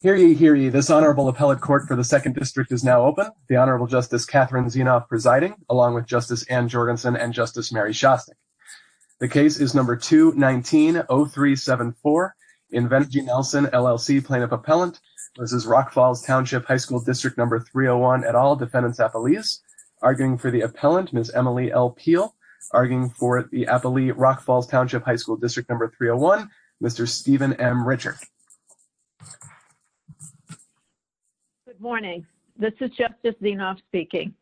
Hear ye, hear ye. This Honorable Appellate Court for the 2nd District is now open. The Honorable Justice Catherine Zienoff presiding, along with Justice Ann Jorgensen and Justice Mary Shostak. The case is No. 2-19-0374. Invenergy Nelson LLC, Plaintiff Appellant, Mrs. Rock Falls Township High School District No. 301, et al., Defendants Appellees. Arguing for the Appellant, Ms. Emily L. Peel. Arguing for the Appellee, Rock Falls Township High School District No. 301, Mr. Stephen M. Richard. Good morning. This is Justice Zienoff speaking.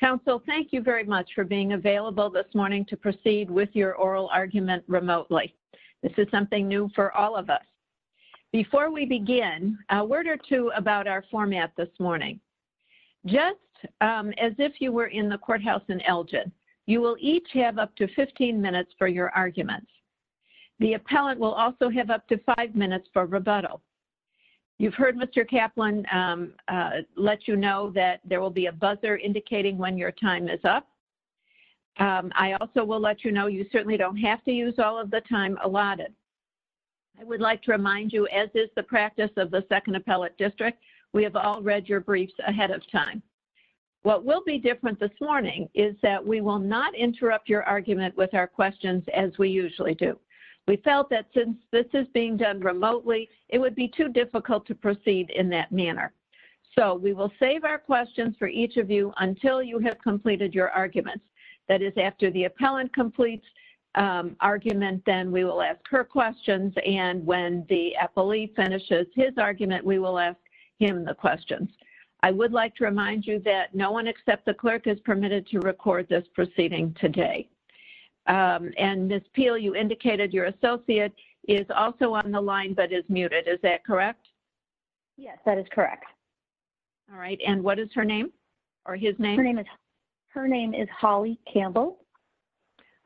Counsel, thank you very much for being available this morning to proceed with your oral argument remotely. This is something new for all of us. Before we begin, a word or two about our format this morning. Just as if you were in the courthouse in Elgin, you will each have up to 15 minutes for your arguments. The Appellant will also have up to five minutes for rebuttal. You've heard Mr. Kaplan let you know that there will be a buzzer indicating when your time is up. I also will let you know you certainly don't have to use all of the time allotted. I would like to remind you, as is the practice of the Second Appellate District, we have all read your briefs ahead of time. What will be different this morning is that we will not interrupt your argument with our questions as we usually do. We felt that since this is being done remotely, it would be too difficult to proceed in that manner. So we will save our questions for each of you until you have completed your arguments. That is, after the Appellant completes argument, then we will ask her questions. And when the Appellee finishes his argument, we will ask him the questions. I would like to remind you that no one except the Clerk is permitted to record this proceeding today. And Ms. Peel, you indicated your Associate is also on the line but is muted. Is that correct? Yes, that is correct. All right. And what is her name or his name? Her name is Holly Campbell.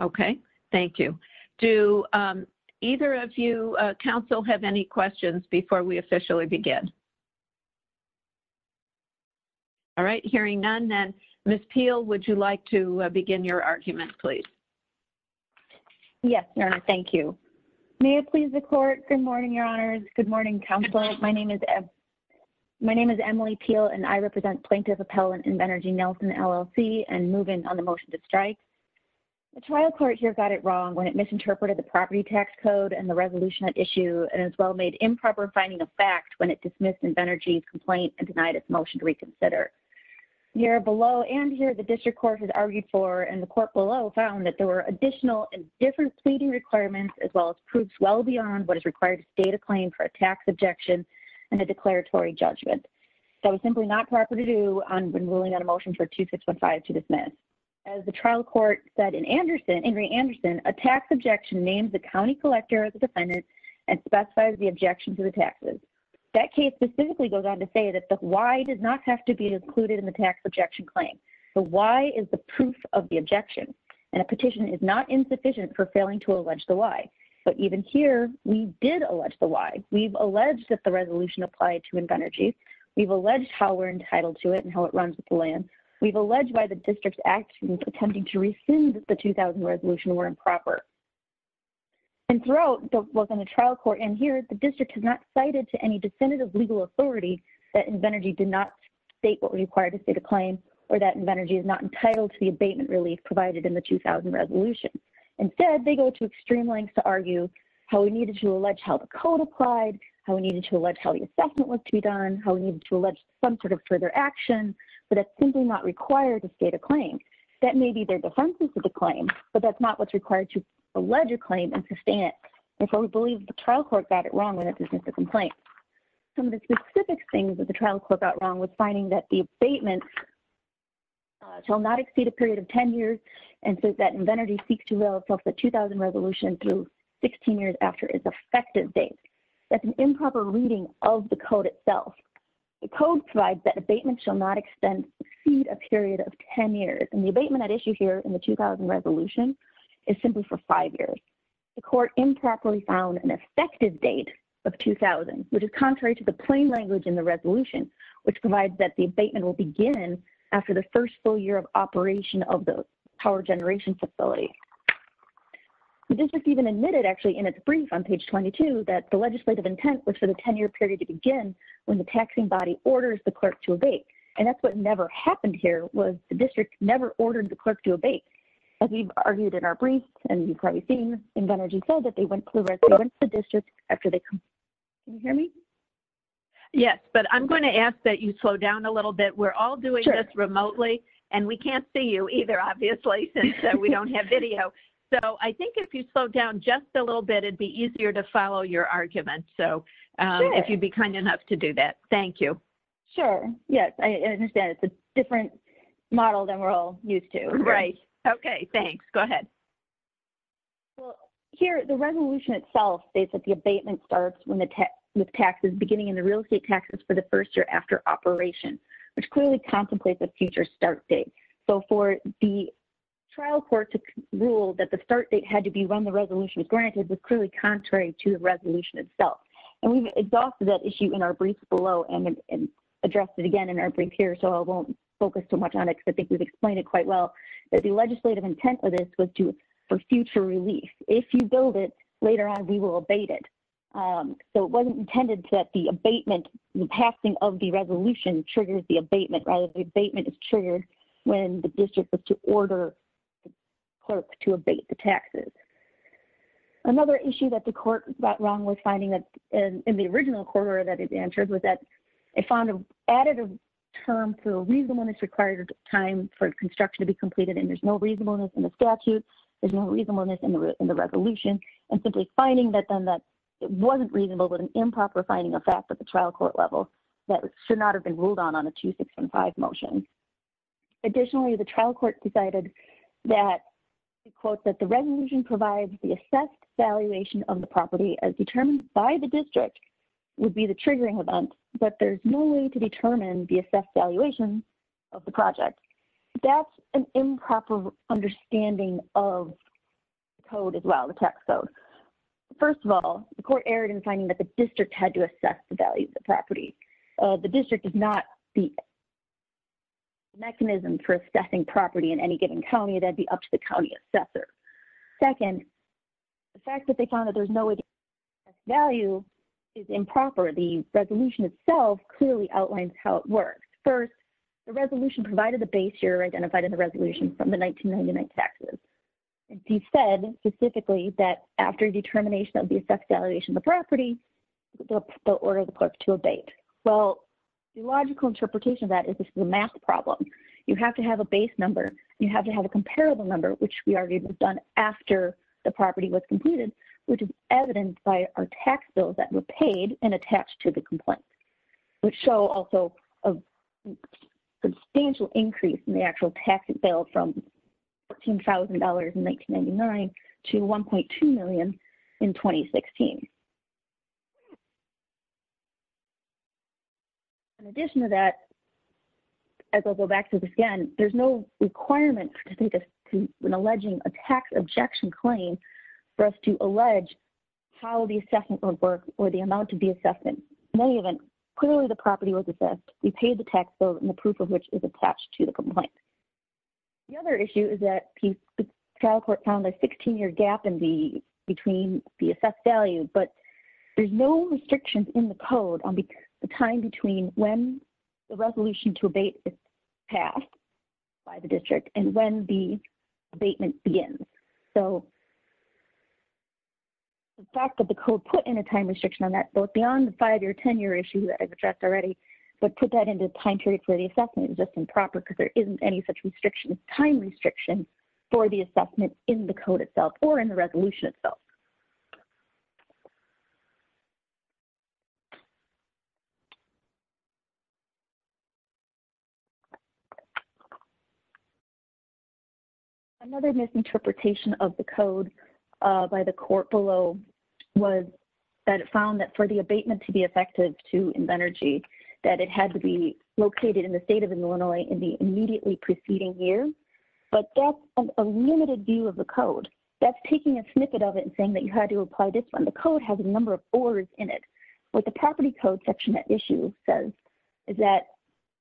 Okay. Thank you. Do either of you, Counsel, have any questions before we officially begin? All right. Hearing none, then, Ms. Peel, would you like to begin your argument, please? Yes, Your Honor. Thank you. May it please the Court. Good morning, Your Honors. Good morning, Counselors. My name is Emily Peel, and I represent Plaintiff Appellant in Benergy-Nelson, LLC, and move in on the motion to strike. The trial court here got it wrong when it misinterpreted the property tax code and the resolution at issue and as well made improper finding of fact when it dismissed Benergy's complaint and denied its motion to reconsider. Here below and here the District Court has argued for and the Court below found that there were additional and different pleading requirements as well as proofs well beyond what is required to state a claim for a tax objection and a declaratory judgment. That was simply not proper to do when ruling out a motion for 2615 to dismiss. As the trial court said in Anderson, Ingrid Anderson, a tax objection names the county collector as a defendant and specifies the objection to the taxes. That case specifically goes on to say that the why does not have to be included in the tax objection claim. The why is the proof of the objection, and a petition is not insufficient for failing to allege the why. But even here, we did allege the why. We've alleged that the resolution applied to in Benergy. We've alleged how we're entitled to it and how it runs with the land. We've alleged why the district's actions attempting to rescind the 2000 resolution were improper. And throughout, both in the trial court and here, the district has not cited to any definitive legal authority that Benergy did not state what required to state a claim or that Benergy is not entitled to the abatement relief provided in the 2000 resolution. Instead, they go to extreme lengths to argue how we needed to allege how the code applied, how we needed to allege how the assessment was to be done, how we needed to allege some sort of further action. But it's simply not required to state a claim. That may be their defenses to the claim, but that's not what's required to allege a claim and sustain it. And so we believe the trial court got it wrong when it dismissed the complaint. Some of the specific things that the trial court got wrong was finding that the abatement shall not exceed a period of 10 years and that Benergy seeks to resolve the 2000 resolution through 16 years after its effective date. That's an improper reading of the code itself. The code provides that abatement shall not exceed a period of 10 years. And the abatement at issue here in the 2000 resolution is simply for five years. The court improperly found an effective date of 2000, which is contrary to the plain language in the resolution, which provides that the abatement will begin after the first full year of operation of the power generation facility. The district even admitted, actually, in its brief on page 22, that the legislative intent was for the 10-year period to begin when the taxing body orders the clerk to abate. And that's what never happened here, was the district never ordered the clerk to abate. As we've argued in our brief, and you've probably seen in Benergy's bill, that they went to the district after they completed. Can you hear me? Yes, but I'm going to ask that you slow down a little bit. We're all doing this remotely, and we can't see you either, obviously, since we don't have video. So I think if you slow down just a little bit, it would be easier to follow your argument. So if you'd be kind enough to do that. Thank you. Sure. Yes, I understand. It's a different model than we're all used to. Right. Okay. Thanks. Go ahead. Well, here, the resolution itself states that the abatement starts with taxes beginning in the real estate taxes for the first year after operation, which clearly contemplates a future start date. So for the trial court to rule that the start date had to be when the resolution was granted was clearly contrary to the resolution itself. And we've exhausted that issue in our brief below and addressed it again in our brief here, so I won't focus too much on it, because I think we've explained it quite well, that the legislative intent of this was for future relief. If you build it, later on we will abate it. So it wasn't intended that the abatement, the passing of the resolution triggers the abatement, rather the abatement is triggered when the district is to order the clerk to abate the taxes. Another issue that the court got wrong with finding that in the original quarter that it answered was that it found an additive term, so reasonableness required time for construction to be completed, and there's no reasonableness in the statute, there's no reasonableness in the resolution, and simply finding that then that wasn't reasonable was an improper finding of fact at the trial court level that should not have been ruled on on a 2-615 motion. Additionally, the trial court decided that, quote, that the resolution provides the assessed valuation of the property as determined by the district would be the triggering event, but there's no way to determine the assessed valuation of the project. That's an improper understanding of the code as well, the tax code. First of all, the court erred in finding that the district had to assess the value of the property. The district is not the mechanism for assessing property in any given county. That would be up to the county assessor. Second, the fact that they found that there's no way to assess value is improper. The resolution itself clearly outlines how it works. First, the resolution provided the base year identified in the resolution from the 1999 taxes. It said specifically that after determination of the assessed valuation of the property, the order of the clerk to abate. Well, the logical interpretation of that is this is a math problem. You have to have a base number. You have to have a comparable number, which we already have done after the property was completed, which is evidenced by our tax bills that were paid and attached to the complaint, which show also a substantial increase in the actual tax bill from $14,000 in 1999 to $1.2 million in 2016. In addition to that, as I'll go back to this again, there's no requirement to make an alleging a tax objection claim for us to allege how the assessment would work or the amount to be assessed. In any event, clearly the property was assessed. We paid the tax bill and the proof of which is attached to the complaint. The other issue is that the trial court found a 16-year gap between the assessed value, but there's no restrictions in the code on the time between when the resolution to abate is passed by the district and when the abatement begins. So the fact that the code put in a time restriction on that, both beyond the 5-year, 10-year issue that I've addressed already, but put that into the time period for the assessment is just improper because there isn't any such time restriction for the assessment in the code itself or in the resolution itself. Another misinterpretation of the code by the court below was that it found that for the abatement to be effective to Invenergy, that it had to be located in the state of Illinois in the immediately preceding year. But that's a limited view of the code. That's taking a snippet of it and saying that you had to apply this one. The code has a number of ors in it. What the property code section at issue says is that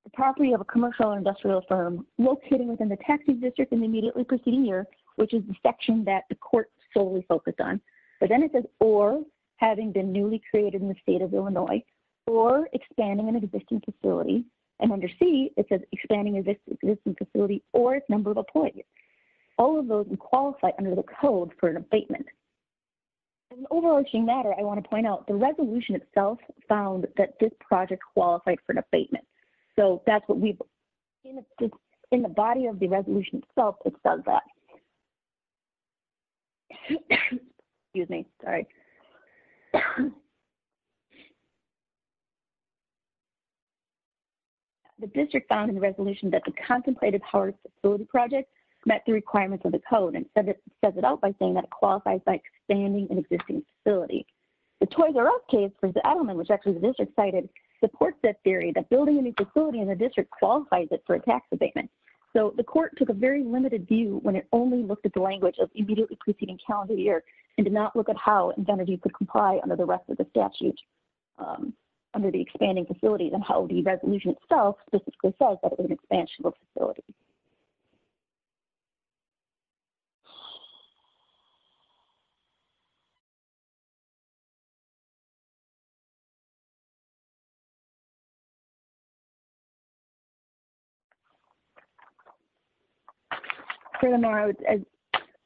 the property of a commercial or industrial firm located within the taxing district in the immediately preceding year, which is the section that the court solely focused on. But then it says or having been newly created in the state of Illinois or expanding an existing facility. And under C, it says expanding an existing facility or its number of appointments. All of those would qualify under the code for an abatement. As an overarching matter, I want to point out the resolution itself found that this project qualified for an abatement. So that's what we've seen in the body of the resolution itself. It says that. Excuse me. Sorry. The district found in the resolution that the contemplated Howard facility project met the requirements of the code. And it says it out by saying that it qualifies by expanding an existing facility. The Toys R Us case for the Edelman, which actually the district cited, supports that theory that building a new facility in the district qualifies it for a tax abatement. So the court took a very limited view when it only looked at the language of immediately preceding calendar year and did not look at how it could comply under the rest of the statute under the expanding facility and how the resolution itself specifically says that it was an expansion of a facility. Furthermore,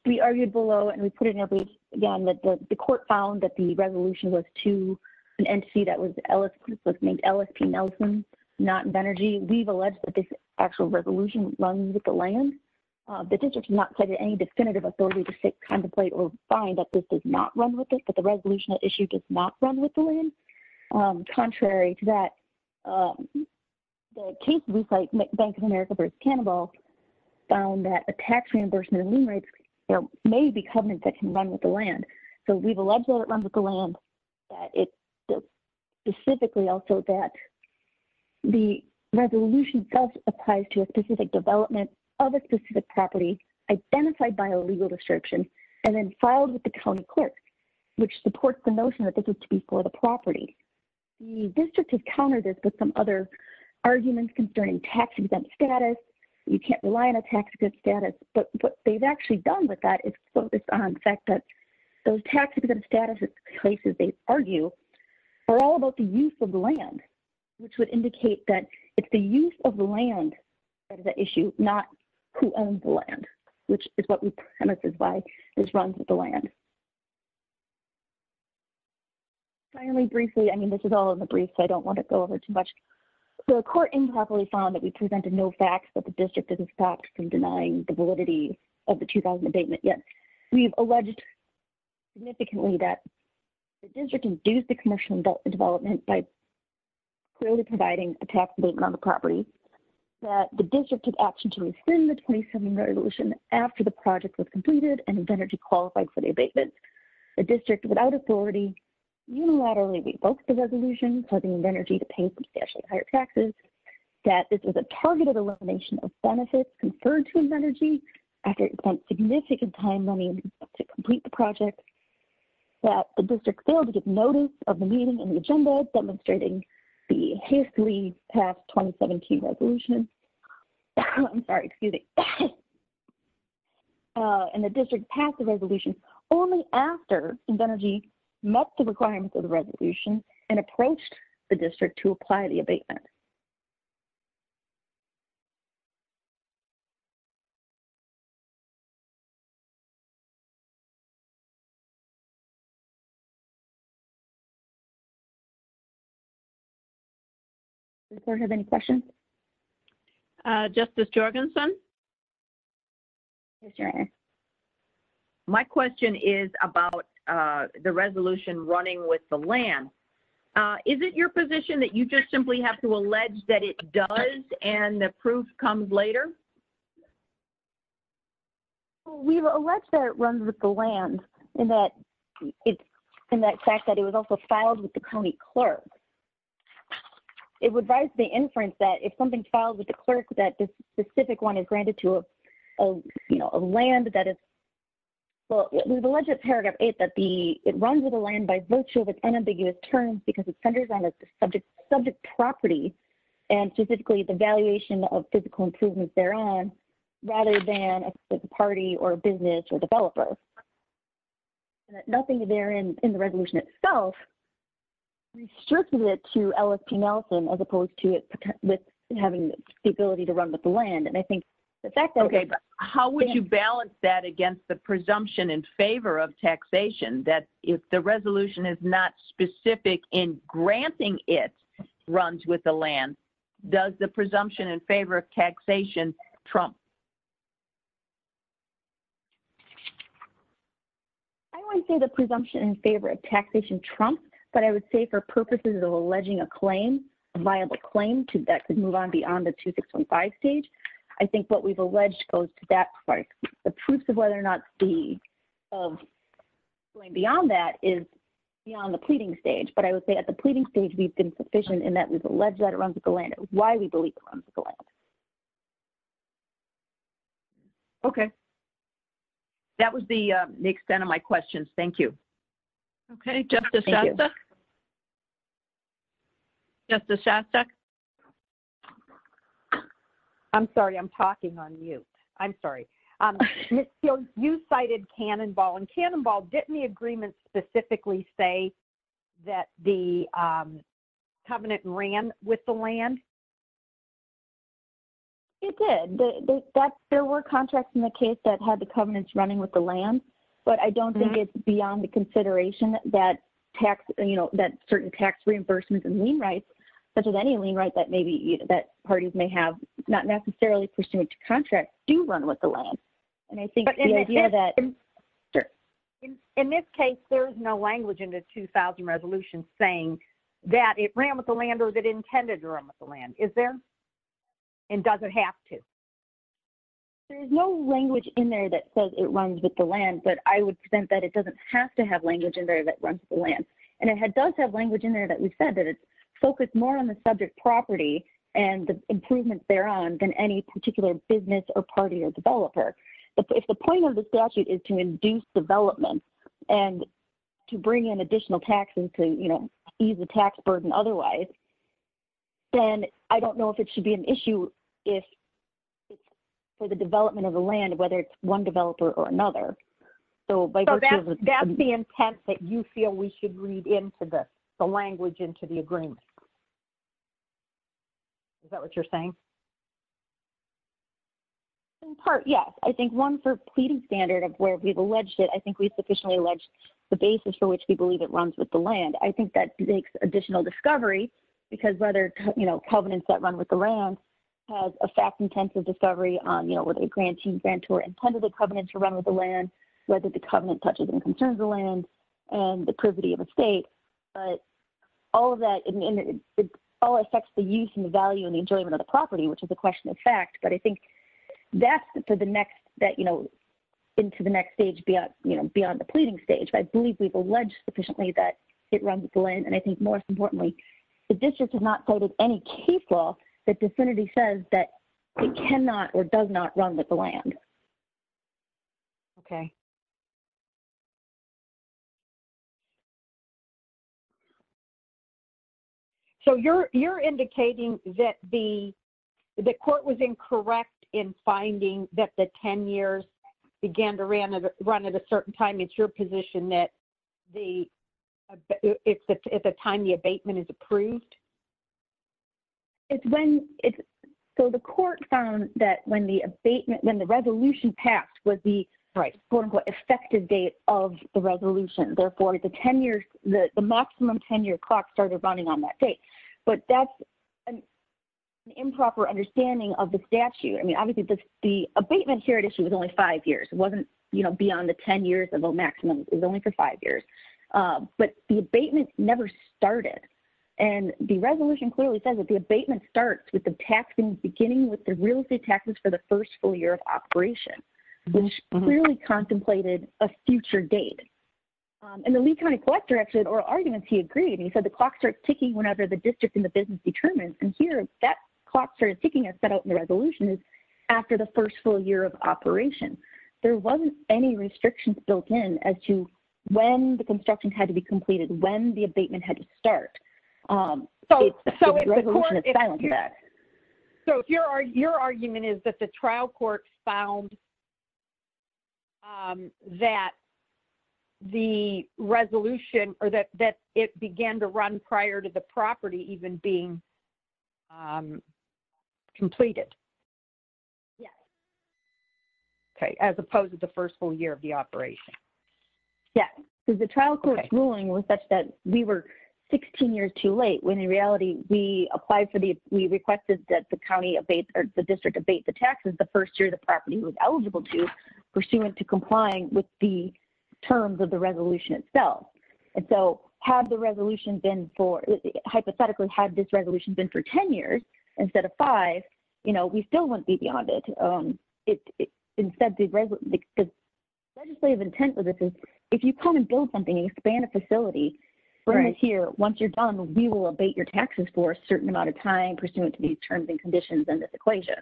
we argued below and we put it in a brief, again, that the court found that the resolution was to an entity that was not in energy. We've alleged that this actual resolution runs with the land. The district did not say that any definitive authority to sit contemplate or find that this does not run with it, but the resolution issue does not run with the land. Contrary to that. The case was like Bank of America versus cannibal. Found that a tax reimbursement. Maybe covenant that can run with the land. So we've alleged that it runs with the land. It's. Specifically also that. The resolution does apply to a specific development. Other specific property identified by a legal description. And then filed with the county court. Which supports the notion that this is to be for the property. The district has countered this with some other arguments concerning tax exempt status. You can't rely on a tax credit status, but what they've actually done with that is focus on the fact that. It's the use of the land. That is the issue, not. Who owns the land, which is what we. And this is why this runs with the land. Finally, briefly, I mean, this is all in the brief, so I don't want to go over too much. The court improperly found that we presented no facts that the district didn't stop from denying the validity of the 2000 abatement yet. We've alleged. We've alleged. Significantly that. The district can do the commercial development by. Clearly providing a tax abatement on the property. That the district had option to rescind the 27 resolution after the project was completed and energy qualified for the abatement. The district without authority. Unilaterally, we both the resolution. Has already provided a reasonable, reasonable explanation for the energy to pay substantially higher taxes. That this was a targeted elimination of benefits. Conferred to him energy. After significant time, money. To complete the project. The district failed to give notice of the meeting and the agenda demonstrating the past 2017 resolution. I'm sorry. Excuse me. And the district passed the resolution only after. Met the requirements of the resolution and approached. The district to apply the abatement. Thank you. Any questions. Justice. My question is about the resolution running with the land. Is it your position that you just simply have to allege that it does. And the proof comes later. We've alleged that it runs with the land. And that. In that fact that it was also filed with the county clerk. It would rise to the inference that if something's filed with the clerk, that this specific one is granted to a. You know, a land that is. Okay. Well, we've alleged paragraph eight, that the it runs with the land by virtue of its unambiguous terms, because it centers on a subject subject property. And specifically the valuation of physical improvements there on. Rather than a party or business or developers. Nothing there in, in the resolution itself. I mean, I don't think there's any reason to restrict it to LSP Nelson as opposed to it. With having the ability to run with the land. And I think. Okay. How would you balance that against the presumption in favor of taxation? That. If the resolution is not specific in granting it. Runs with the land. Does the presumption in favor of taxation. Trump. I don't want to say the presumption in favor of taxation Trump, but I would say for purposes of alleging a claim. A viable claim to that could move on beyond the two, six, one, five stage. I think what we've alleged goes to that part. The proofs of whether or not the. Okay. That was the extent of my questions. Thank you. Okay. Justice. Justice. I'm sorry, I'm talking on mute. I'm sorry. I'm sorry. I'm sorry. I'm sorry. I'm sorry. Right. So, the Hannon ball and Cannon ball didn't the agreement specifically say that the covenant ran with the land. You did that. There were contracts in the case that had the covenants running with the land, but I don't think it's beyond the consideration that tax. You know, that certain tax reimbursements and lien rights. But there's any lien write that maybe that parties may have not In this case, there's no language in the 2000 resolution saying that it ran with the landers that intended to run with the land is there and doesn't have to. There's no language in there that says it runs with the land, but I would present that it doesn't have to have language in there that runs the land. And it had does have language in there that we've said that it's focused more on the subject property and the improvements there on than any particular business or party or developer. If the point of the statute is to induce development and to bring in additional taxes to, you know, ease the tax burden. Otherwise, then I don't know if it should be an issue if for the development of the land, whether it's one developer or another. So, that's the intent that you feel we should read into the language into the agreement. Is that what you're saying? In part. Yes. I think one for pleading standard of where we've alleged it, I think we've sufficiently alleged the basis for which we believe it runs with the land. I think that makes additional discovery because whether, you know, covenants that run with the rounds has a fact intensive discovery on, you know, whether the grantees mentor intended the covenant to run with the land, whether the covenant touches and concerns the land and the privity of a state. But all of that, it all affects the use and the value and the enjoyment of the property. Which is a question of fact, but I think that's for the next that, you know, into the next stage beyond, you know, beyond the pleading stage. I believe we've alleged sufficiently that it runs the land. And I think more importantly, the district has not voted any case law that vicinity says that it cannot or does not run with the land. Okay. Okay. So you're, you're indicating that the, the court was incorrect in finding that the 10 years began to run, run at a certain time. It's your position that the, it's at the time the abatement is approved. It's when it's. So the court found that when the abatement, when the resolution passed was the right quote unquote effective date of the resolution. Therefore the 10 years, the maximum 10 year clock started running on that date, but that's an improper understanding of the statute. I mean, obviously the abatement here at issue was only five years. It wasn't, you know, beyond the 10 years of a maximum is only for five years, but the abatement never started. And the resolution clearly says that the abatement starts with the taxing beginning with the real estate taxes for the first full year of operation, which clearly contemplated a future date. And the lead kind of collector actually, or arguments he agreed. And he said the clock starts ticking whenever the district in the business determines. And here that clock started ticking. I set out in the resolution is after the first full year of operation, there wasn't any restrictions built in as to when the construction had to be completed, when the abatement had to start. So your argument is that the trial court found that the resolution or that, that it began to run prior to the property even being completed. Okay. As opposed to the first full year of the operation. Yeah. So the trial court ruling was such that we were 16 years too late when in reality we applied for the, we requested that the county abates or the district abate the taxes. The first year, the property was eligible to pursuant to complying with the terms of the resolution itself. And so have the resolution been for hypothetically had this resolution been for 10 years instead of five, you know, we still wouldn't be beyond it. It instead, legislative intent with this is if you come and build something, expand a facility right here, once you're done, we will abate your taxes for a certain amount of time pursuant to these terms and conditions in this equation.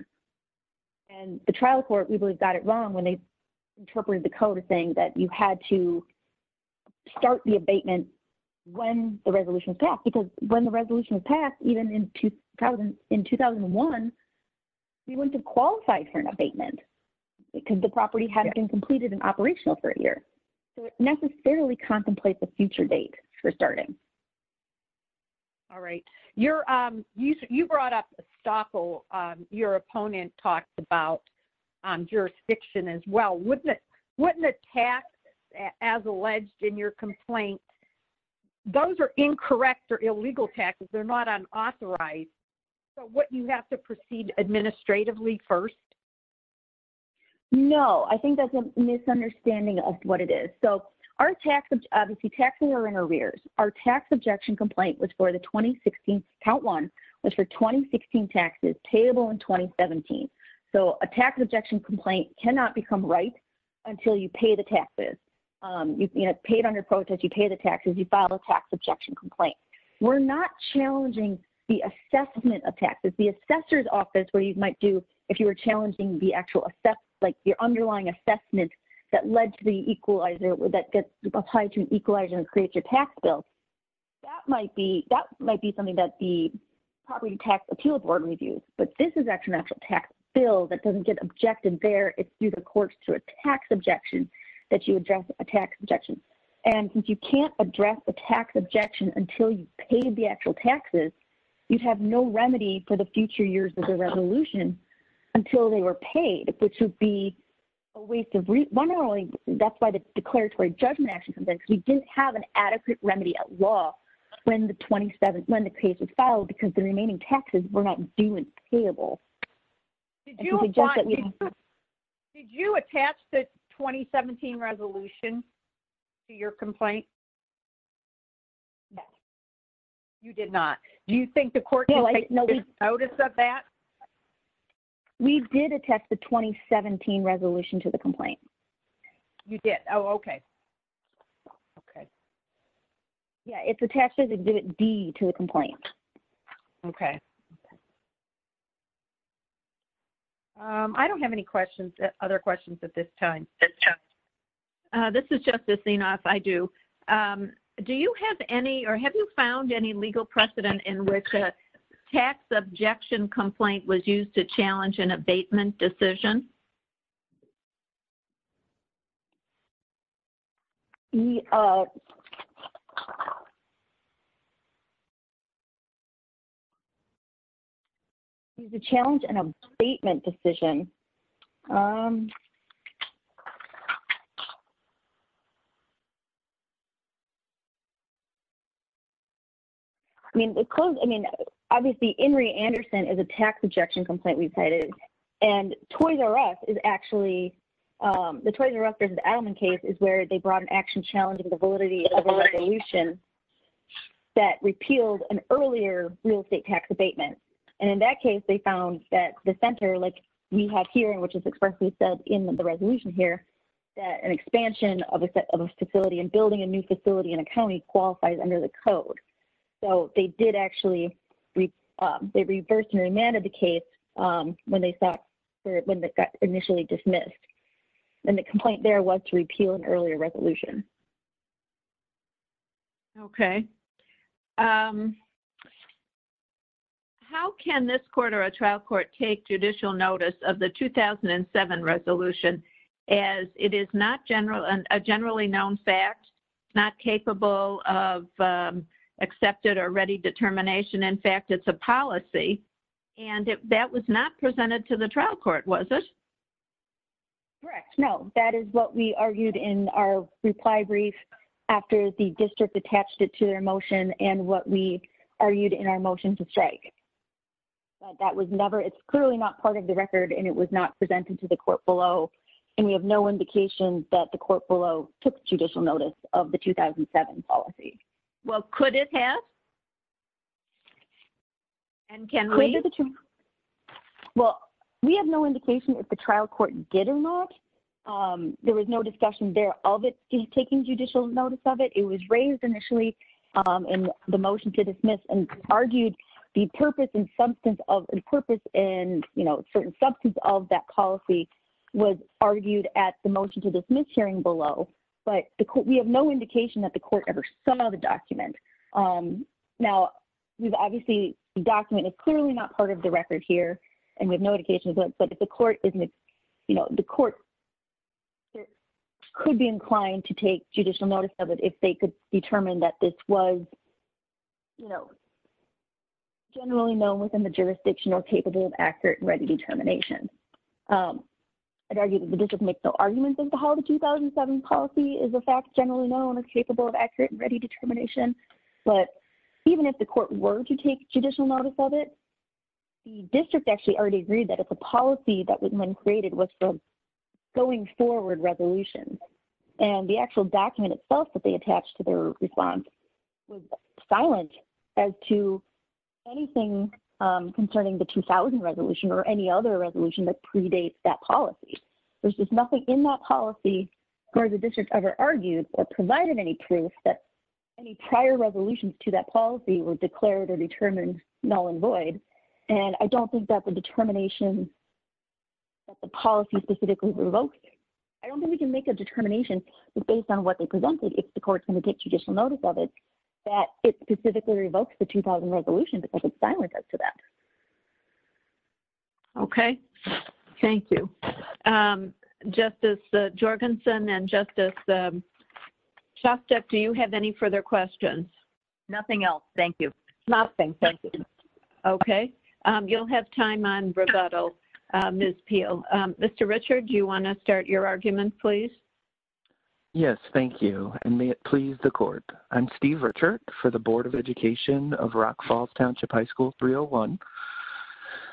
And the trial court, we believe got it wrong when they interpreted the code of saying that you had to start the abatement when the resolution was passed, because when the resolution was passed, even in 2000, in 2001, we went to qualify for an abatement because the property hadn't been completed and operational for a year. So it necessarily contemplates a future date for starting. All right. You're you, you brought up a stock. Your opponent talks about jurisdiction as well. Wouldn't it, wouldn't the tax as alleged in your complaint, those are incorrect or illegal taxes. They're not unauthorized. So what you have to proceed administratively first. No, I think that's a misunderstanding of what it is. So our tax, obviously taxing our interiors, our tax objection complaint was for the 2016 count one was for 2016 taxes payable in 2017. So a tax objection complaint cannot become right until you pay the taxes. You know, paid under protest, you pay the taxes, you file a tax objection complaint. We're not challenging the assessment of taxes, the assessor's office where you might do, if you were challenging the actual assess like your underlying assessment that led to the equalizer, that gets tied to an equalizer and create your tax bill. That might be, that might be something that the property tax appeal board reviews, but this is actually an actual tax bill that doesn't get objected there. It's through the courts to a tax objection that you address a tax objection. And since you can't address the tax objection until you paid the actual taxes, you'd have no remedy for the future years of the resolution until they were paid, which would be a waste of money. That's why the declaratory judgment actually, because we didn't have an adequate remedy at law when the 27th, when the case was filed, because the remaining taxes were not doing payable. Did you, did you attach the 2017 resolution to your complaint? You did not. Do you think the court notice of that? We did attach the 2017 resolution to the complaint. You did. Oh, okay. Okay. Yeah. It's attached to the D to the complaint. Okay. I don't have any questions that other questions at this time. This is just this thing off. I do. Do you have any, or have you found any legal precedent in which a tax objection complaint was used to challenge an abatement decision? He's a challenge and abatement decision. I mean, because, I mean, obviously Henry Anderson is a tax objection complaint we've cited and toys and rust. There's an element case is where they brought an action, challenging the validity of a resolution that repealed an earlier real estate tax abatement. And in that case, they found that the center like we have here, and which is expressly said in the resolution here, that an expansion of a set of a facility and building a new facility in a County qualifies under the code. So they did actually, they reversed and remanded the case when they thought, when they got initially dismissed and the complaint there was to repeal an earlier resolution. Okay. How can this quarter, a trial court take judicial notice of the 2007 resolution as it is not general and a generally known fact, not capable of accepted or ready determination. In fact, it's a policy and that was not presented to the trial court. Was it? Correct? No, that is what we argued in our reply brief after the district attached it to their emotion and what we argued in our motion to strike. That was never, it's clearly not part of the record and it was not presented to the court below. And we have no indication that the court below took judicial notice of the 2007 policy. Well, could it have, and can we, well, we have no indication if the trial court did or not. There was no discussion there of it taking judicial notice of it. It was raised initially in the motion to dismiss and argued the purpose and substance of the purpose and, you know, certain substance of that policy was argued at the motion to dismiss hearing below. But we have no indication that the court ever saw the document. Now we've obviously document is clearly not part of the record here and we have no indication of it, but if the court isn't, you know, the court could be inclined to take judicial notice of it if they could determine that this was, you know, generally known within the jurisdiction or capable of accurate and ready determination. I'd argue that the district makes no arguments as to how the 2007 policy is a fact generally known as capable of accurate and ready determination. But even if the court were to take judicial notice of it, the district actually already agreed that it's a policy that was when created was from going forward resolution. And the actual document itself that they attached to their response was silent as to anything concerning the 2000 resolution or any other resolution that predates that policy. There's just nothing in that policy where the district ever argued or provided any proof that any prior resolution to that policy was declared or determined null and void. And I don't think that the determination that the policy specifically revokes it. I don't think we can make a determination based on what they presented. If the court's going to take judicial notice of it, that it specifically revokes the 2000 resolution because it's silent as to that. Okay. Thank you. Justice Jorgensen and Justice Shostek, do you have any further questions? Nothing else. Thank you. Nothing. Thank you. Okay. You'll have time on rebuttal. Ms. Peel. Mr. Richard, do you want to start your argument please? Yes. Thank you. And may it please the court. I'm Steve Richard for the board of education of Rock Falls Township High School. And I would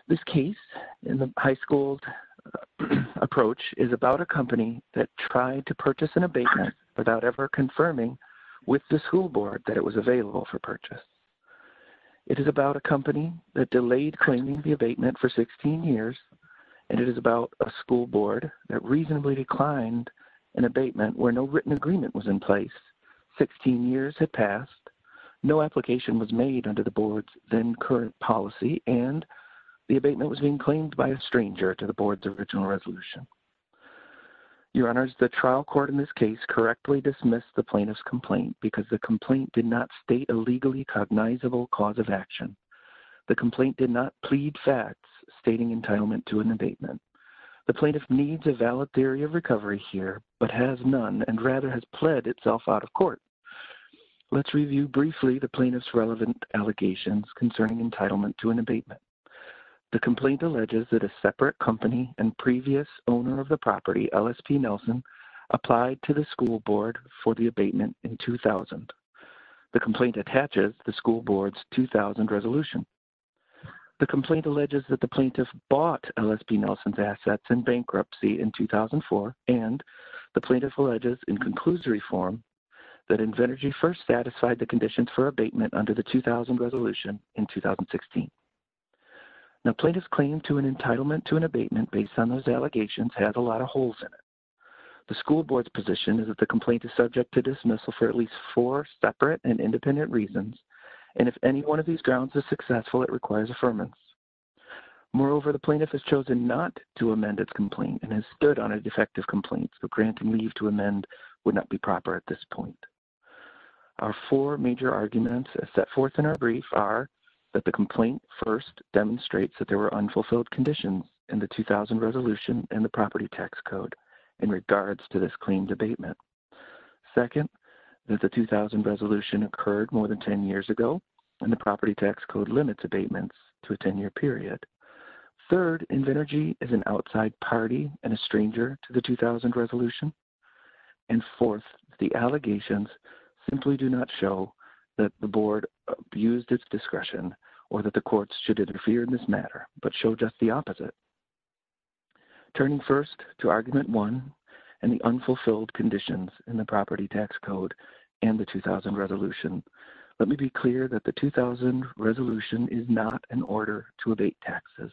like to make a brief comment on this case. This case in the high school. Approach is about a company that tried to purchase an abatement. Without ever confirming. With the school board that it was available for purchase. It is about a company that delayed claiming the abatement for 16 years. And it is about a school board that reasonably declined. An abatement where no written agreement was in place. 16 years had passed. No application was made under the board's then current policy. And the abatement was being claimed by a stranger to the board's original resolution. Your honors, the trial court in this case correctly dismissed the plaintiff's complaint because the complaint did not state a legally cognizable cause of action. The complaint did not plead facts stating entitlement to an abatement. The plaintiff needs a valid theory of recovery here, but has none and rather has pled itself out of court. Let's review briefly the plaintiff's relevant allegations concerning entitlement to an abatement. The complaint alleges that a separate company and previous owner of the property, LSP, Nelson applied to the school board for the abatement in 2000. The complaint attaches the school board's 2000 resolution. The complaint alleges that the plaintiff bought LSP Nelson's assets in bankruptcy in 2004. And the plaintiff alleges in conclusory form that Invenergy first satisfied the conditions for abatement under the 2000 resolution in 2016. Now plaintiff's claim to an entitlement to an abatement based on those allegations has a lot of holes in it. The school board's position is that the complaint is subject to dismissal for at least four separate and independent reasons. And if any one of these grounds is successful, it requires affirmance. Moreover, the plaintiff has chosen not to amend its complaint and has stood on a defective complaint. So granting leave to amend would not be proper at this point. Our four major arguments set forth in our brief are that the complaint first demonstrates that there were unfulfilled conditions in the 2000 resolution and the property tax code in regards to this claimed abatement. Second, that the 2000 resolution occurred more than 10 years ago and the property tax code limits abatements to a 10 year period. Third, Invenergy is an outside party and a stranger to the 2000 resolution. And fourth, the allegations simply do not show that the board abused its discretion or that the courts should interfere in this matter, but show just the opposite. Turning first to argument one and the unfulfilled conditions in the property tax code and the 2000 resolution, let me be clear that the 2000 resolution is not an order to abate taxes.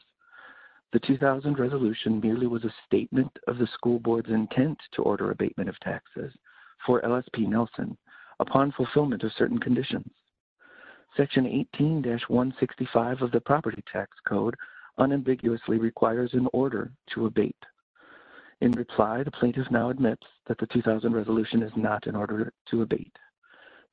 The 2000 resolution merely was a statement of the school board's intent to order abatement of taxes for LSP Nelson upon fulfillment of certain conditions. Section 18-165 of the property tax code unambiguously requires an order to abate. In reply, the plaintiff now admits that the 2000 resolution is not an order to abate.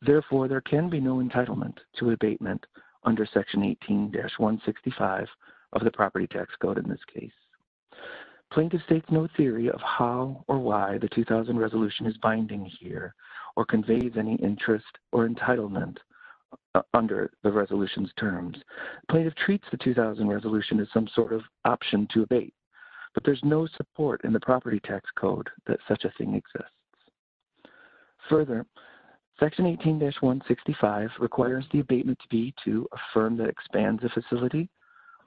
Therefore, there can be no entitlement to abatement under section 18-165 of the property tax code. In this case, plaintiff states no theory of how or why the 2000 resolution is binding here or conveys any interest or entitlement under the resolution's terms. Plaintiff treats the 2000 resolution as some sort of option to abate, but there's no support in the property tax code that such a thing exists. Further, section 18-165 requires the abatement to be to a firm that expands the facility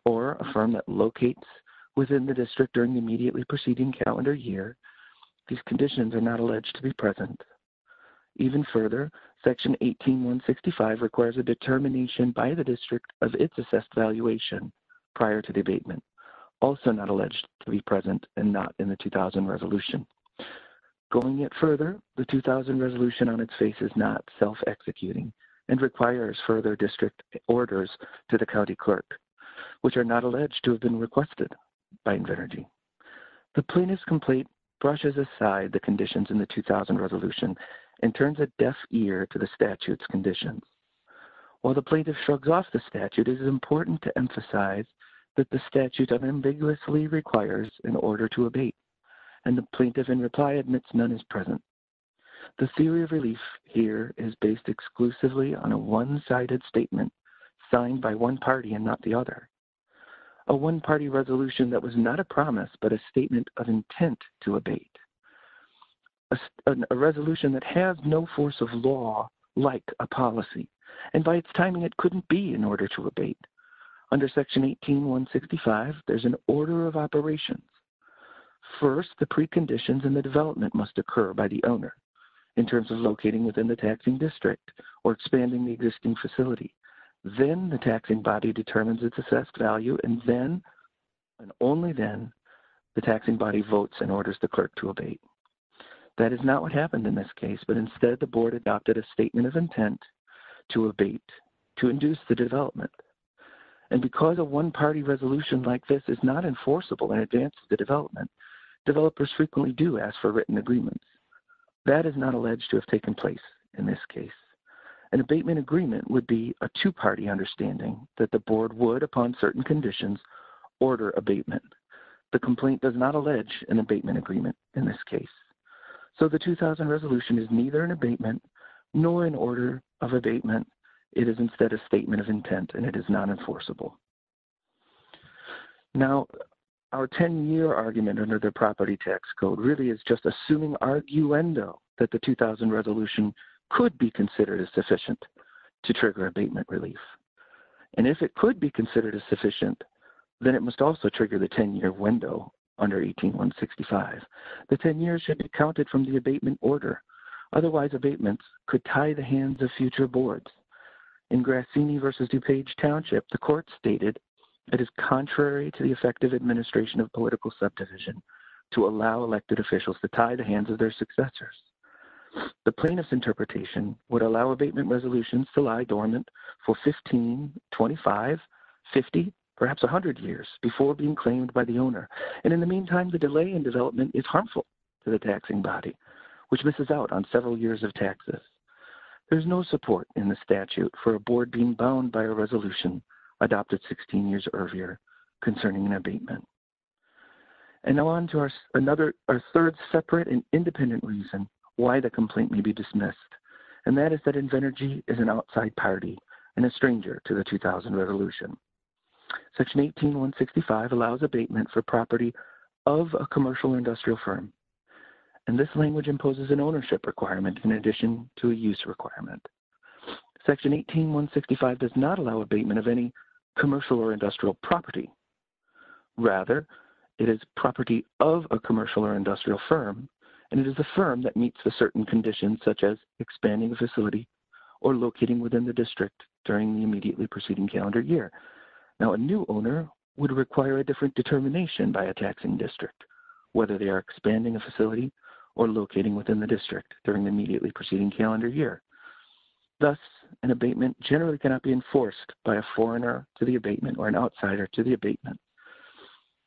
or a firm that locates within the district during the immediately proceeding calendar year. These conditions are not alleged to be present. Even further, section 18-165 requires a determination by the district of its assessed valuation prior to the abatement, also not alleged to be present and not in the 2000 resolution. Going yet further, the 2000 resolution on its face is not self-executing and requires further district orders to the county clerk, which are not alleged to have been requested by Invernergy. The plaintiff's complaint brushes aside the conditions in the 2000 resolution and turns a deaf ear to the statute's conditions. While the plaintiff shrugs off the statute, and the plaintiff in reply admits none is present. The theory of relief here is based exclusively on a one-sided statement signed by one party and not the other. A one-party resolution that was not a promise, but a statement of intent to abate. A resolution that has no force of law like a policy, and by its timing, it couldn't be in order to abate. Under section 18-165, there's an order of operations. First, the preconditions and the development must occur by the owner in terms of locating within the taxing district or expanding the existing facility. Then the taxing body determines its assessed value. And then, and only then the taxing body votes and orders the clerk to abate. That is not what happened in this case, but instead the board adopted a statement of intent to abate, to induce the development. And because a one-party resolution like this is not enforceable in advance of the development, developers frequently do ask for written agreements. That is not alleged to have taken place in this case. An abatement agreement would be a two-party understanding that the board would, upon certain conditions, order abatement. The complaint does not allege an abatement agreement in this case. So the 2000 resolution is neither an abatement nor an order of abatement. It is instead a statement of intent and it is non-enforceable. Now, our 10-year argument under the property tax code really is just assuming arguendo that the 2000 resolution could be considered as sufficient to trigger abatement relief. And if it could be considered as sufficient, then it must also trigger the 10-year wendo under 18-165. The 10 years should be counted from the abatement order. Otherwise abatements could tie the hands of future boards. In Grassini versus DuPage Township, the court stated it is contrary to the effective administration of political subdivision to allow elected officials to tie the hands of their successors. The plaintiff's interpretation would allow abatement resolutions to lie dormant for 15, 25, 50, perhaps a hundred years before being claimed by the owner. And in the meantime, the delay in development is harmful to the taxing body, which misses out on several years of taxes. There's no support in the statute for a board being bound by a resolution adopted 16 years earlier concerning an abatement. And now on to our third separate and independent reason why the complaint may be dismissed. And that is that Invenergy is an outside party and a stranger to the 2000 resolution. Section 18-165 allows abatement for property of a commercial or industrial firm. And this language imposes an ownership requirement in addition to a use requirement. Section 18-165 does not allow abatement of any commercial or industrial property. Rather, it is property of a commercial or industrial firm. And it is the firm that meets the certain conditions, such as expanding the facility or locating within the district during the immediately preceding calendar year. Now a new owner would require a different determination by a taxing district, whether they are expanding a facility or locating within the district during the immediately preceding calendar year. Thus, an abatement generally cannot be enforced by a foreigner to the abatement or an outsider to the abatement.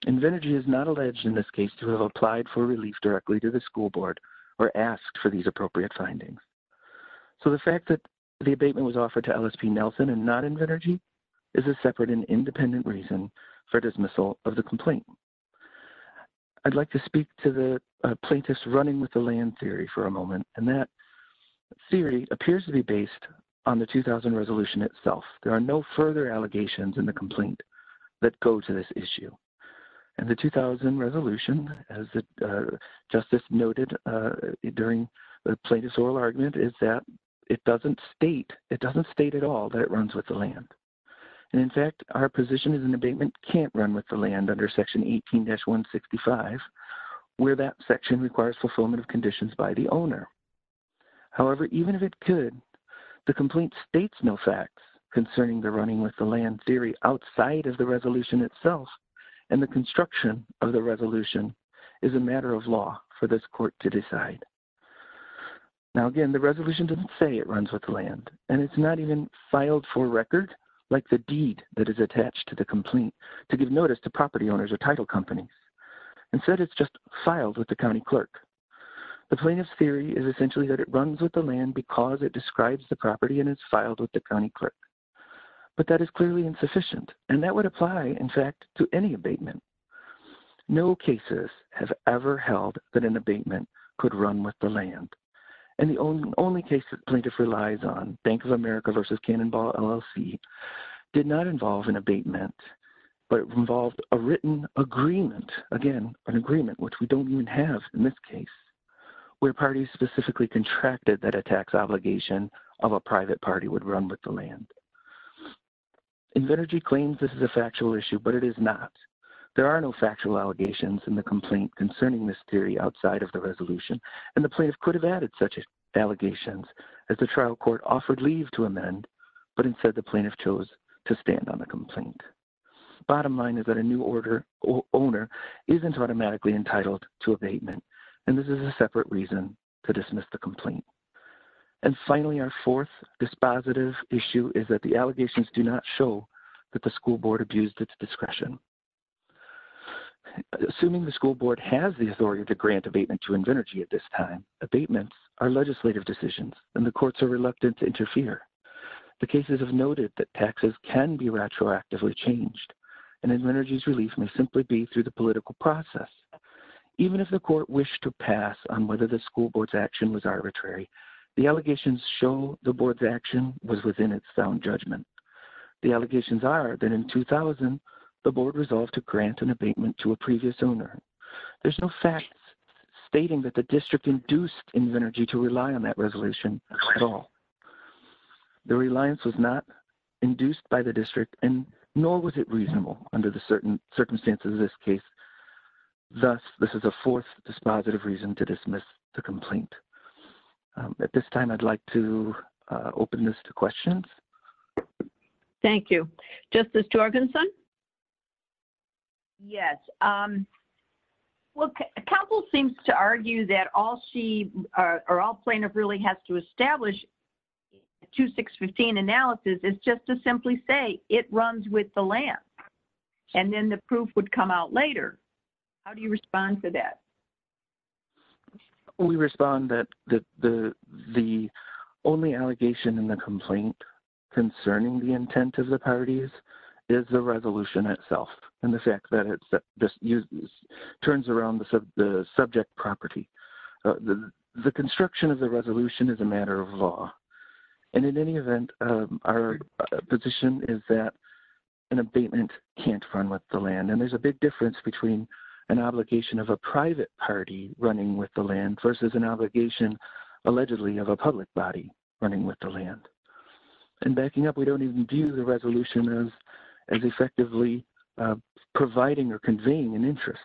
Invenergy is not alleged in this case to have applied for relief directly to the school board or asked for these appropriate findings. So the fact that the abatement was offered to LSP Nelson and not Invenergy is a separate and independent reason for dismissal of the complaint. I'd like to speak to the plaintiff's running with the land theory for a moment. And that theory appears to be based on the 2000 resolution itself. There are no further allegations in the complaint that go to this issue. And the 2000 resolution, as Justice noted, during the plaintiff's oral argument is that it doesn't state, it doesn't state at all that it runs with the land. And in fact, our position is an abatement can't run with the land under section 18-165 where that section requires fulfillment of conditions by the owner. However, even if it could, the complaint states no facts concerning the running with the land theory outside of the resolution itself and the construction of the resolution is a matter of law for this court to decide. Now, again, the resolution doesn't say it runs with the land and it's not even filed for use attached to the complaint to give notice to property owners or title companies. Instead, it's just filed with the County clerk. The plaintiff's theory is essentially that it runs with the land because it describes the property and it's filed with the County clerk, but that is clearly insufficient. And that would apply in fact, to any abatement. No cases have ever held that an abatement could run with the land. And the only case plaintiff relies on Bank of America versus Cannonball LLC did not involve an abatement, but it involved a written agreement. Again, an agreement, which we don't even have in this case, where parties specifically contracted that a tax obligation of a private party would run with the land. Invenergy claims this is a factual issue, but it is not. There are no factual allegations in the complaint concerning this theory outside of the resolution. And the plaintiff could have added such allegations as the trial court offered leave to amend, but instead the plaintiff chose to stand on the complaint. Bottom line is that a new order or owner isn't automatically entitled to abatement. And this is a separate reason to dismiss the complaint. And finally, our fourth dispositive issue is that the allegations do not show that the school board abused its discretion. Assuming the school board has the authority to grant abatement to Invenergy at this time, abatements are legislative decisions, and the courts are reluctant to interfere. The cases have noted that taxes can be retroactively changed and Invenergy's relief may simply be through the political process. Even if the court wished to pass on whether the school board's action was arbitrary, the allegations show the board's action was within its sound judgment. The allegations are that in 2000, the board resolved to grant an abatement to a previous owner. There's no facts stating that the district induced Invenergy to rely on that resolution at all. The reliance was not induced by the district and nor was it reasonable under the certain circumstances of this case. Thus, this is a fourth dispositive reason to dismiss the complaint. At this time, I'd like to open this to questions. Thank you. Justice Jorgenson? Yes. Well, counsel seems to argue that all plaintiff really has to establish 2615 analysis is just to simply say it runs with the lamp and then the proof would come out later. How do you respond to that? We respond that the only allegation in the complaint concerning the intent of the parties is the resolution itself. And the fact that it's just used turns around the subject property. The construction of the resolution is a matter of law. And in any event, our position is that an abatement can't run with the land. And there's a big difference between an obligation of a private party running with the land versus an obligation, allegedly of a public body running with the land and backing up. We don't even view the resolution as effectively providing or conveying an interest.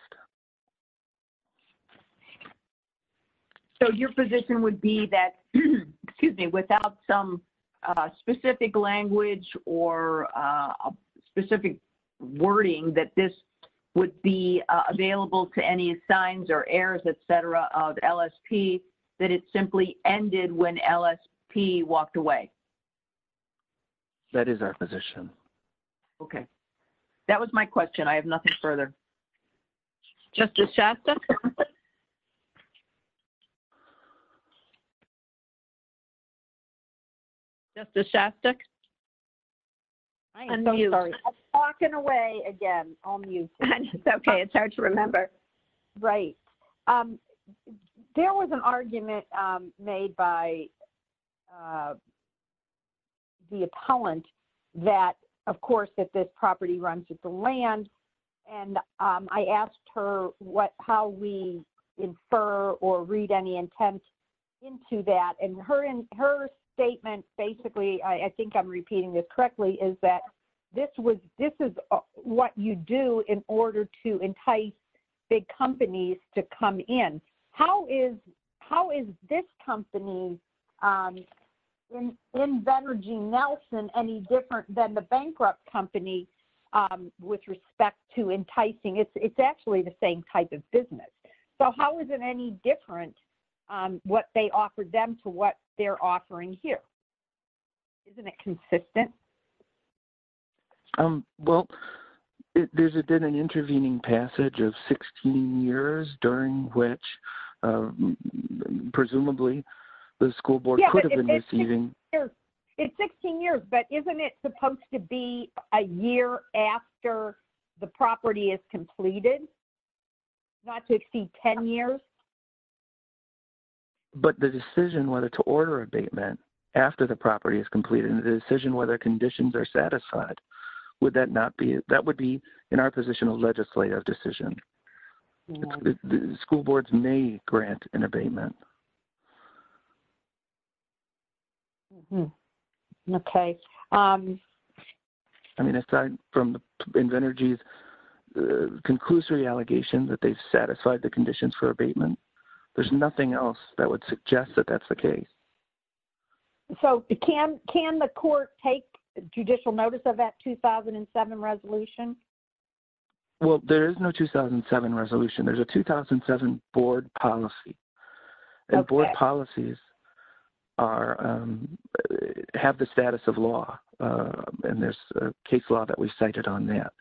So your position would be that, excuse me, without some specific language or a specific wording that this would be available to any signs or errors, et cetera, of LSP that it simply ended when LSP walked away. That is our position. Okay. That was my question. I have nothing further. Justice Shastak? Justice Shastak? I am so sorry. I'm walking away again. I'll mute. It's okay. It's hard to remember. Right. There was an argument made by the appellant that of course, that this property runs with the land. And I asked her what, how we infer or read any intent into that and her, her statement, basically, I think I'm repeating this correctly is that this was, this is what you do in order to entice big companies to come in. How is, how is this company in Better Jean Nelson any different than the bankrupt company with respect to enticing? It's, it's actually the same type of business. So how is it any different what they offered them to what they're offering here? Isn't it consistent? Well, there's been an intervening passage of 16 years during which, presumably the school board could have been receiving. It's 16 years, but isn't it supposed to be a year after the property is completed? Not to exceed 10 years. But the decision whether to order abatement after the property is completed and the decision, whether conditions are satisfied, would that not be, that would be in our position of legislative decision. The school boards may grant an abatement. Okay. I mean, aside from the energy, the conclusory allegation that they've satisfied the conditions for abatement, there's nothing else that would suggest that that's the case. So can, can the court take judicial notice of that 2007 resolution? Well, there is no 2007 resolution. There's a 2007 board policy. And board policies are, have the status of law. And there's a case law that we cited on that.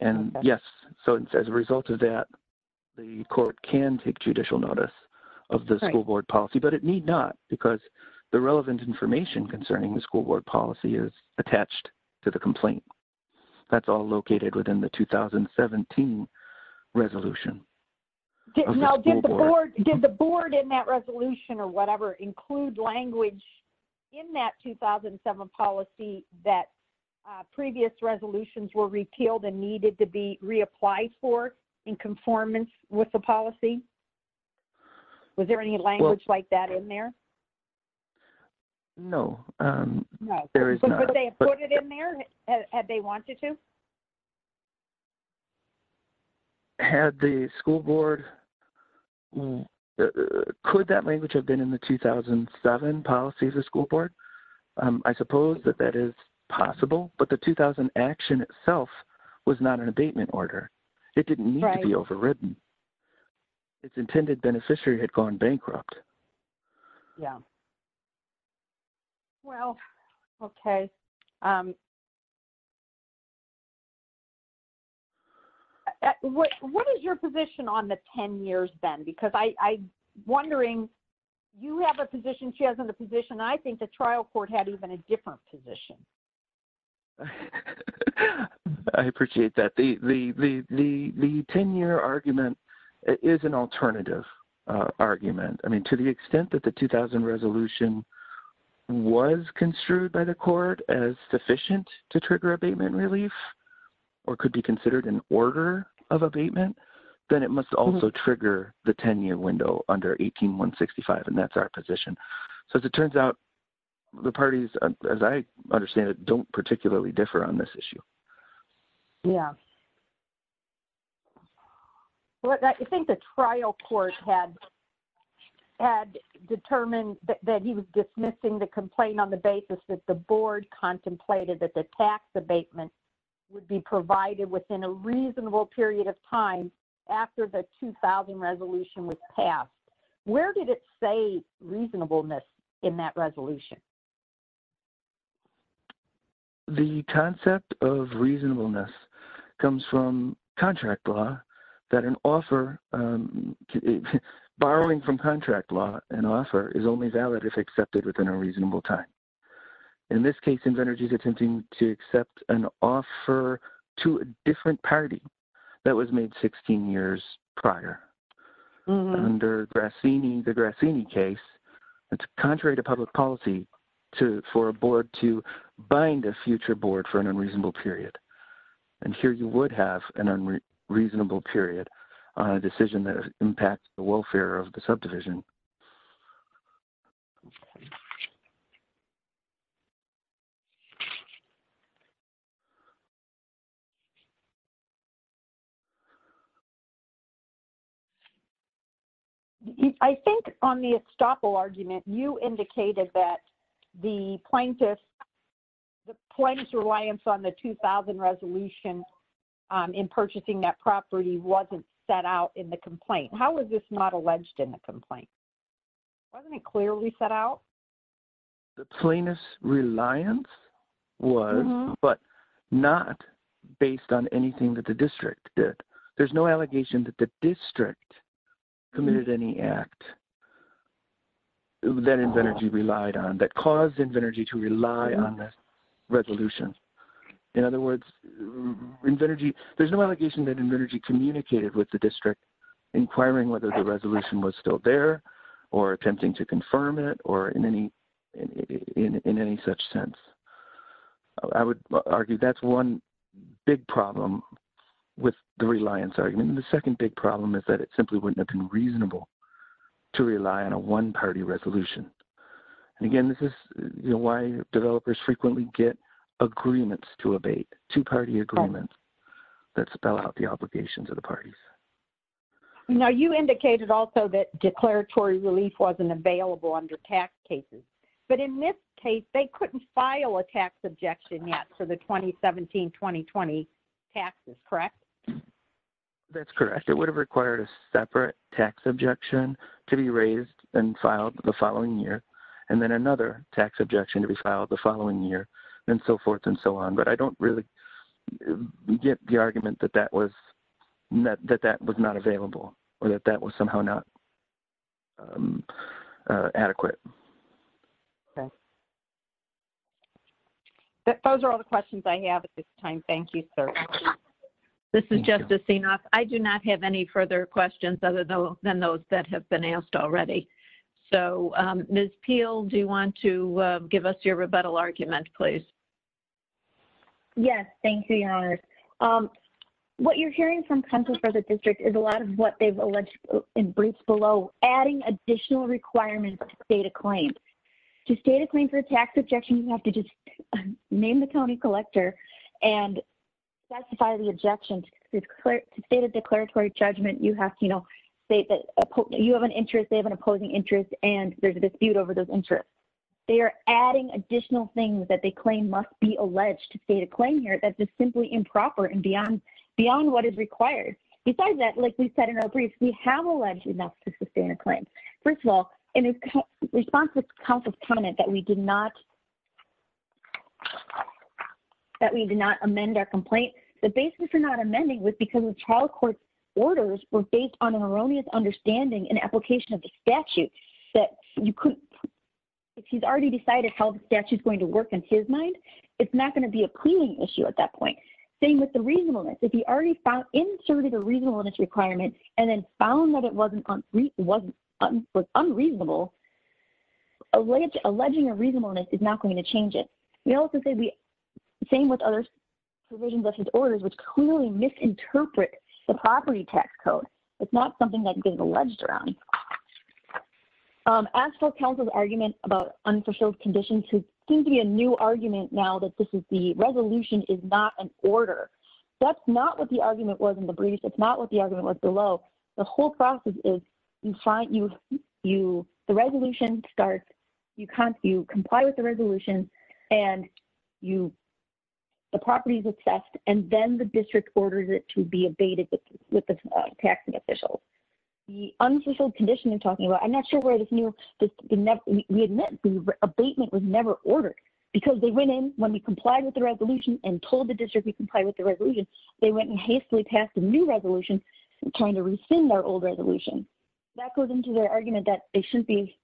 And yes. So as a result of that, the court can take judicial notice of the school board policy, but it need not because the relevant information concerning the school board policy is attached to the complaint. That's all located within the 2017 resolution. Now did the board, did the board in that resolution or whatever include language in that 2007 policy that previous resolutions were repealed and needed to be reapplied for in conformance with the policy? Was there any language like that in there? No, there is not. But they put it in there had they wanted to? Had the school board, could that language have been in the 2007 policy of the school board? I suppose that that is possible, but the 2000 action itself was not an abatement order. It didn't need to be overwritten. It's intended beneficiary had gone bankrupt. Yeah. Well, okay. What is your position on the 10 years then? Because I wondering you have a position she has in the position. I think the trial court had even a different position. I appreciate that. The 10 year argument is an alternative argument. I mean, to the extent that the 2000 resolution was construed by the court as sufficient to trigger abatement relief or could be considered an order of abatement, then it must also trigger the 10 year window under 18, one 65. And that's our position. So as it turns out, the parties, as I understand it don't particularly differ on this issue. Yeah. Well, I think the trial court had had determined that he was dismissing the complaint on the basis that the board contemplated that the tax abatement would be provided within a reasonable period of time after the 2000 resolution was passed. Where did it say reasonableness in that resolution? The concept of reasonableness comes from contract law that an offer borrowing from contract law and offer is only valid if accepted within a reasonable time. In this case, in energy is attempting to accept an offer to a different party. That was made 16 years prior under Grassini, the Grassini case. It's contrary to public policy to, for a board to bind a future board for an unreasonable period. And here you would have an unreasonable period on a decision that has impacted the welfare of the subdivision. Okay. I think on the estoppel argument, you indicated that the plaintiff, the plaintiff's reliance on the 2000 resolution in purchasing that property wasn't set out in the complaint. How was this not alleged in the complaint? Wasn't it clearly set out? The plaintiff's reliance was, but not based on anything that the district did. There's no allegation that the district committed any act that Invenergy relied on that caused Invenergy to rely on this resolution. In other words, Invenergy, there's no allegation that Invenergy communicated with the district, inquiring whether the resolution was still there. Or attempting to confirm it or in any, in any such sense, I would argue that's one big problem with the reliance argument. And the second big problem is that it simply wouldn't have been reasonable to rely on a one party resolution. And again, this is why developers frequently get agreements to abate, two party agreements that spell out the obligations of the parties. Now you indicated also that declaratory relief wasn't available under tax cases, but in this case, they couldn't file a tax objection yet for the 2017, 2020 taxes, correct? That's correct. It would have required a separate tax objection to be raised and filed the following year. And then another tax objection to be filed the following year and so forth and so on. But I don't really get the argument that that was, that that was not available or that that was somehow not adequate. Okay. Those are all the questions I have at this time. Thank you, sir. This is Justice Enoff. I do not have any further questions other than those that have been asked already. So Ms. Peel, do you want to give us your rebuttal argument, please? Yes. Thank you, Your Honor. What you're hearing from Congress for the district is a lot of what they've alleged in briefs below, adding additional requirements to state a claim. To state a claim for a tax objection, you have to just name the county collector and specify the objections. To state a declaratory judgment, you have to, you know, say that you have an interest, they have an opposing interest, and there's a dispute over those interests. They are adding additional things that they claim must be alleged to state a proper and beyond, beyond what is required. Besides that, like we said in our briefs, we have alleged enough to sustain a claim. First of all, in response to counsel's comment that we did not, that we did not amend our complaint, the basis for not amending was because the trial court orders were based on an erroneous understanding and application of the statute that you couldn't, if he's already decided how the statute is going to work in his mind, it's not going to be a cleaning issue at that point. Same with the reasonableness, if he already inserted a reasonableness requirement and then found that it wasn't unreasonable, alleging a reasonableness is not going to change it. We also say the same with other provisions of his orders, which clearly misinterpret the property tax code. It's not something that's been alleged around. As for counsel's argument about unfulfilled conditions, which seems to be a new argument now that this is the resolution is not an order. That's not what the argument was in the brief. It's not what the argument was below. The whole process is you find you, you, the resolution starts, you can't, you comply with the resolution and you, the property is assessed and then the district ordered it to be abated with the taxing officials. The unfulfilled condition you're talking about, I'm not sure where this new, we admit abatement was never ordered because they went in when we complied with the resolution and told the district we comply with the resolution. They went and hastily passed a new resolution trying to rescind our old resolution. That goes into their argument that they shouldn't be,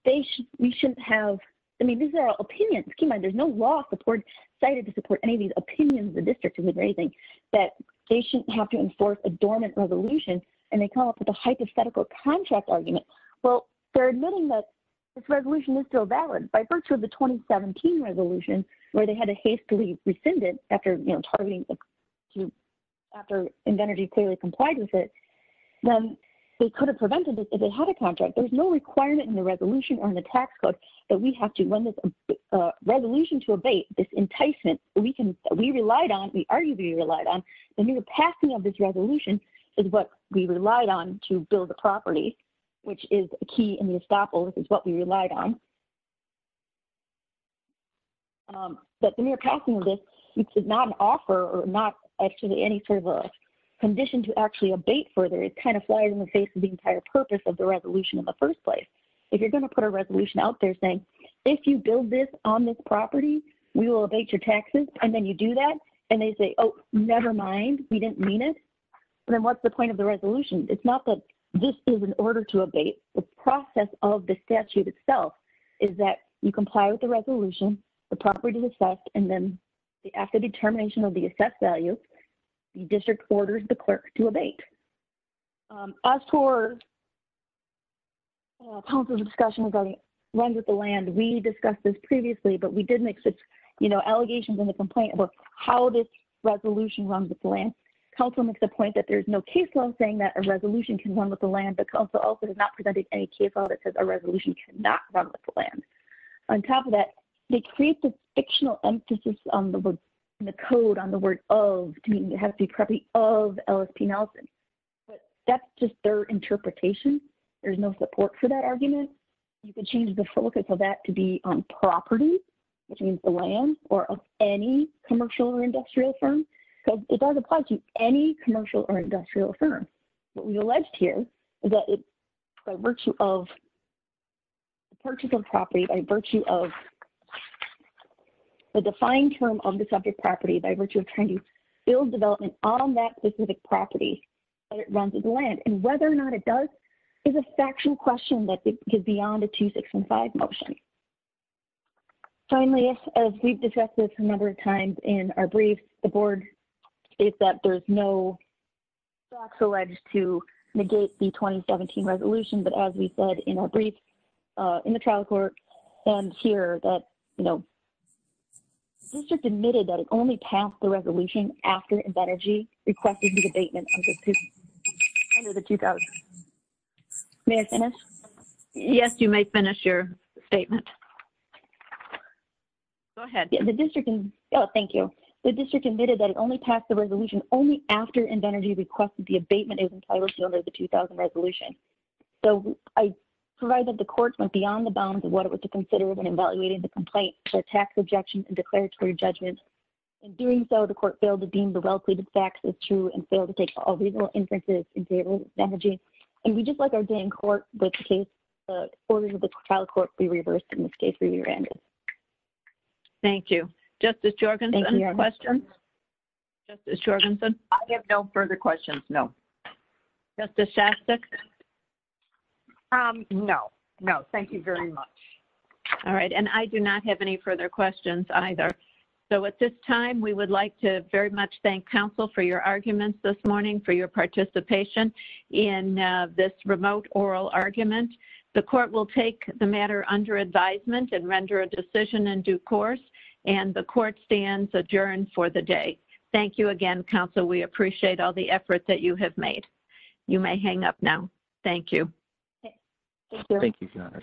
we shouldn't have, I mean, these are our opinions. There's no law support cited to support any of these opinions of the district that they shouldn't have to enforce a dormant resolution. And they come up with a hypothetical contract argument. Well, they're admitting that this resolution is still valid by virtue of the 2017 resolution, where they had a hastily rescinded after, you know, targeting, after Invenergy clearly complied with it, then they could have prevented this if they had a contract. There's no requirement in the resolution or in the tax code that we have to run this resolution to abate this enticement. We can, we relied on, we arguably relied on the new passing of this resolution is what we relied on to build the property, which is a key in the estoppel. This is what we relied on. But the new passing of this is not an offer or not actually any sort of a condition to actually abate further. It kind of flies in the face of the entire purpose of the resolution in the first place. If you're going to put a resolution out there saying, if you build this on this property, we will abate your taxes. And then you do that and they say, Oh, nevermind. We didn't mean it. And then what's the point of the resolution? It's not that this is an order to abate. The process of the statute itself is that you comply with the resolution, the property is assessed. And then after determination of the assessed value, the district orders the clerk to abate. As for council's discussion regarding runs with the land, we discussed this previously, but we did make such, you know, allegations in the complaint about how this resolution runs with the land. Council makes the point that there's no case law saying that a resolution can run with the land, but council also has not presented any case law that says a resolution cannot run with the land. On top of that, they create the fictional emphasis on the word and the code on the word of, to me, it has to be probably of LSP Nelson, but that's just their interpretation. There's no support for that argument. You can change the focus of that to be on property, which means the land or any commercial or industrial firm. So it does apply to any commercial or industrial firm. What we alleged here is that by virtue of purchase of property, by virtue of the defined term of the subject property, by virtue of trying to build development on that specific property, that it runs with the land and whether or not it does is a factual question that goes beyond a two, six and five motion. Finally, as we've discussed this a number of times in our brief, the board is that there's no box alleged to negate the 2017 resolution. But as we said in our brief in the trial court and here that, you know, this just admitted that it only passed the resolution after energy requested the debatement. May I finish? Yes, you may finish your statement. Go ahead. The district. Oh, thank you. The district admitted that it only passed the resolution only after and energy requested the abatement is entitled to the 2000 resolution. So I provide that the courts went beyond the bounds of what it was to consider when evaluating the complaint for tax objections and declaratory judgments. And doing so, the court failed to deem the well pleaded facts as true and failed to take all reasonable inferences in favor of energy. And we just like our day in court with the case, the orders of the trial court be reversed in this case where you're in. Thank you. Justice Jorgensen. I have no further questions. No. No, no. Thank you very much. All right. And I do not have any further questions either. So at this time we would like to very much thank counsel for your arguments this morning for your participation in this remote oral argument. The court will take the matter under advisement and render a decision in due course and the court stands adjourned for the day. Thank you again, counsel. We appreciate all the efforts that you have made. You may hang up now. Thank you. Thank you.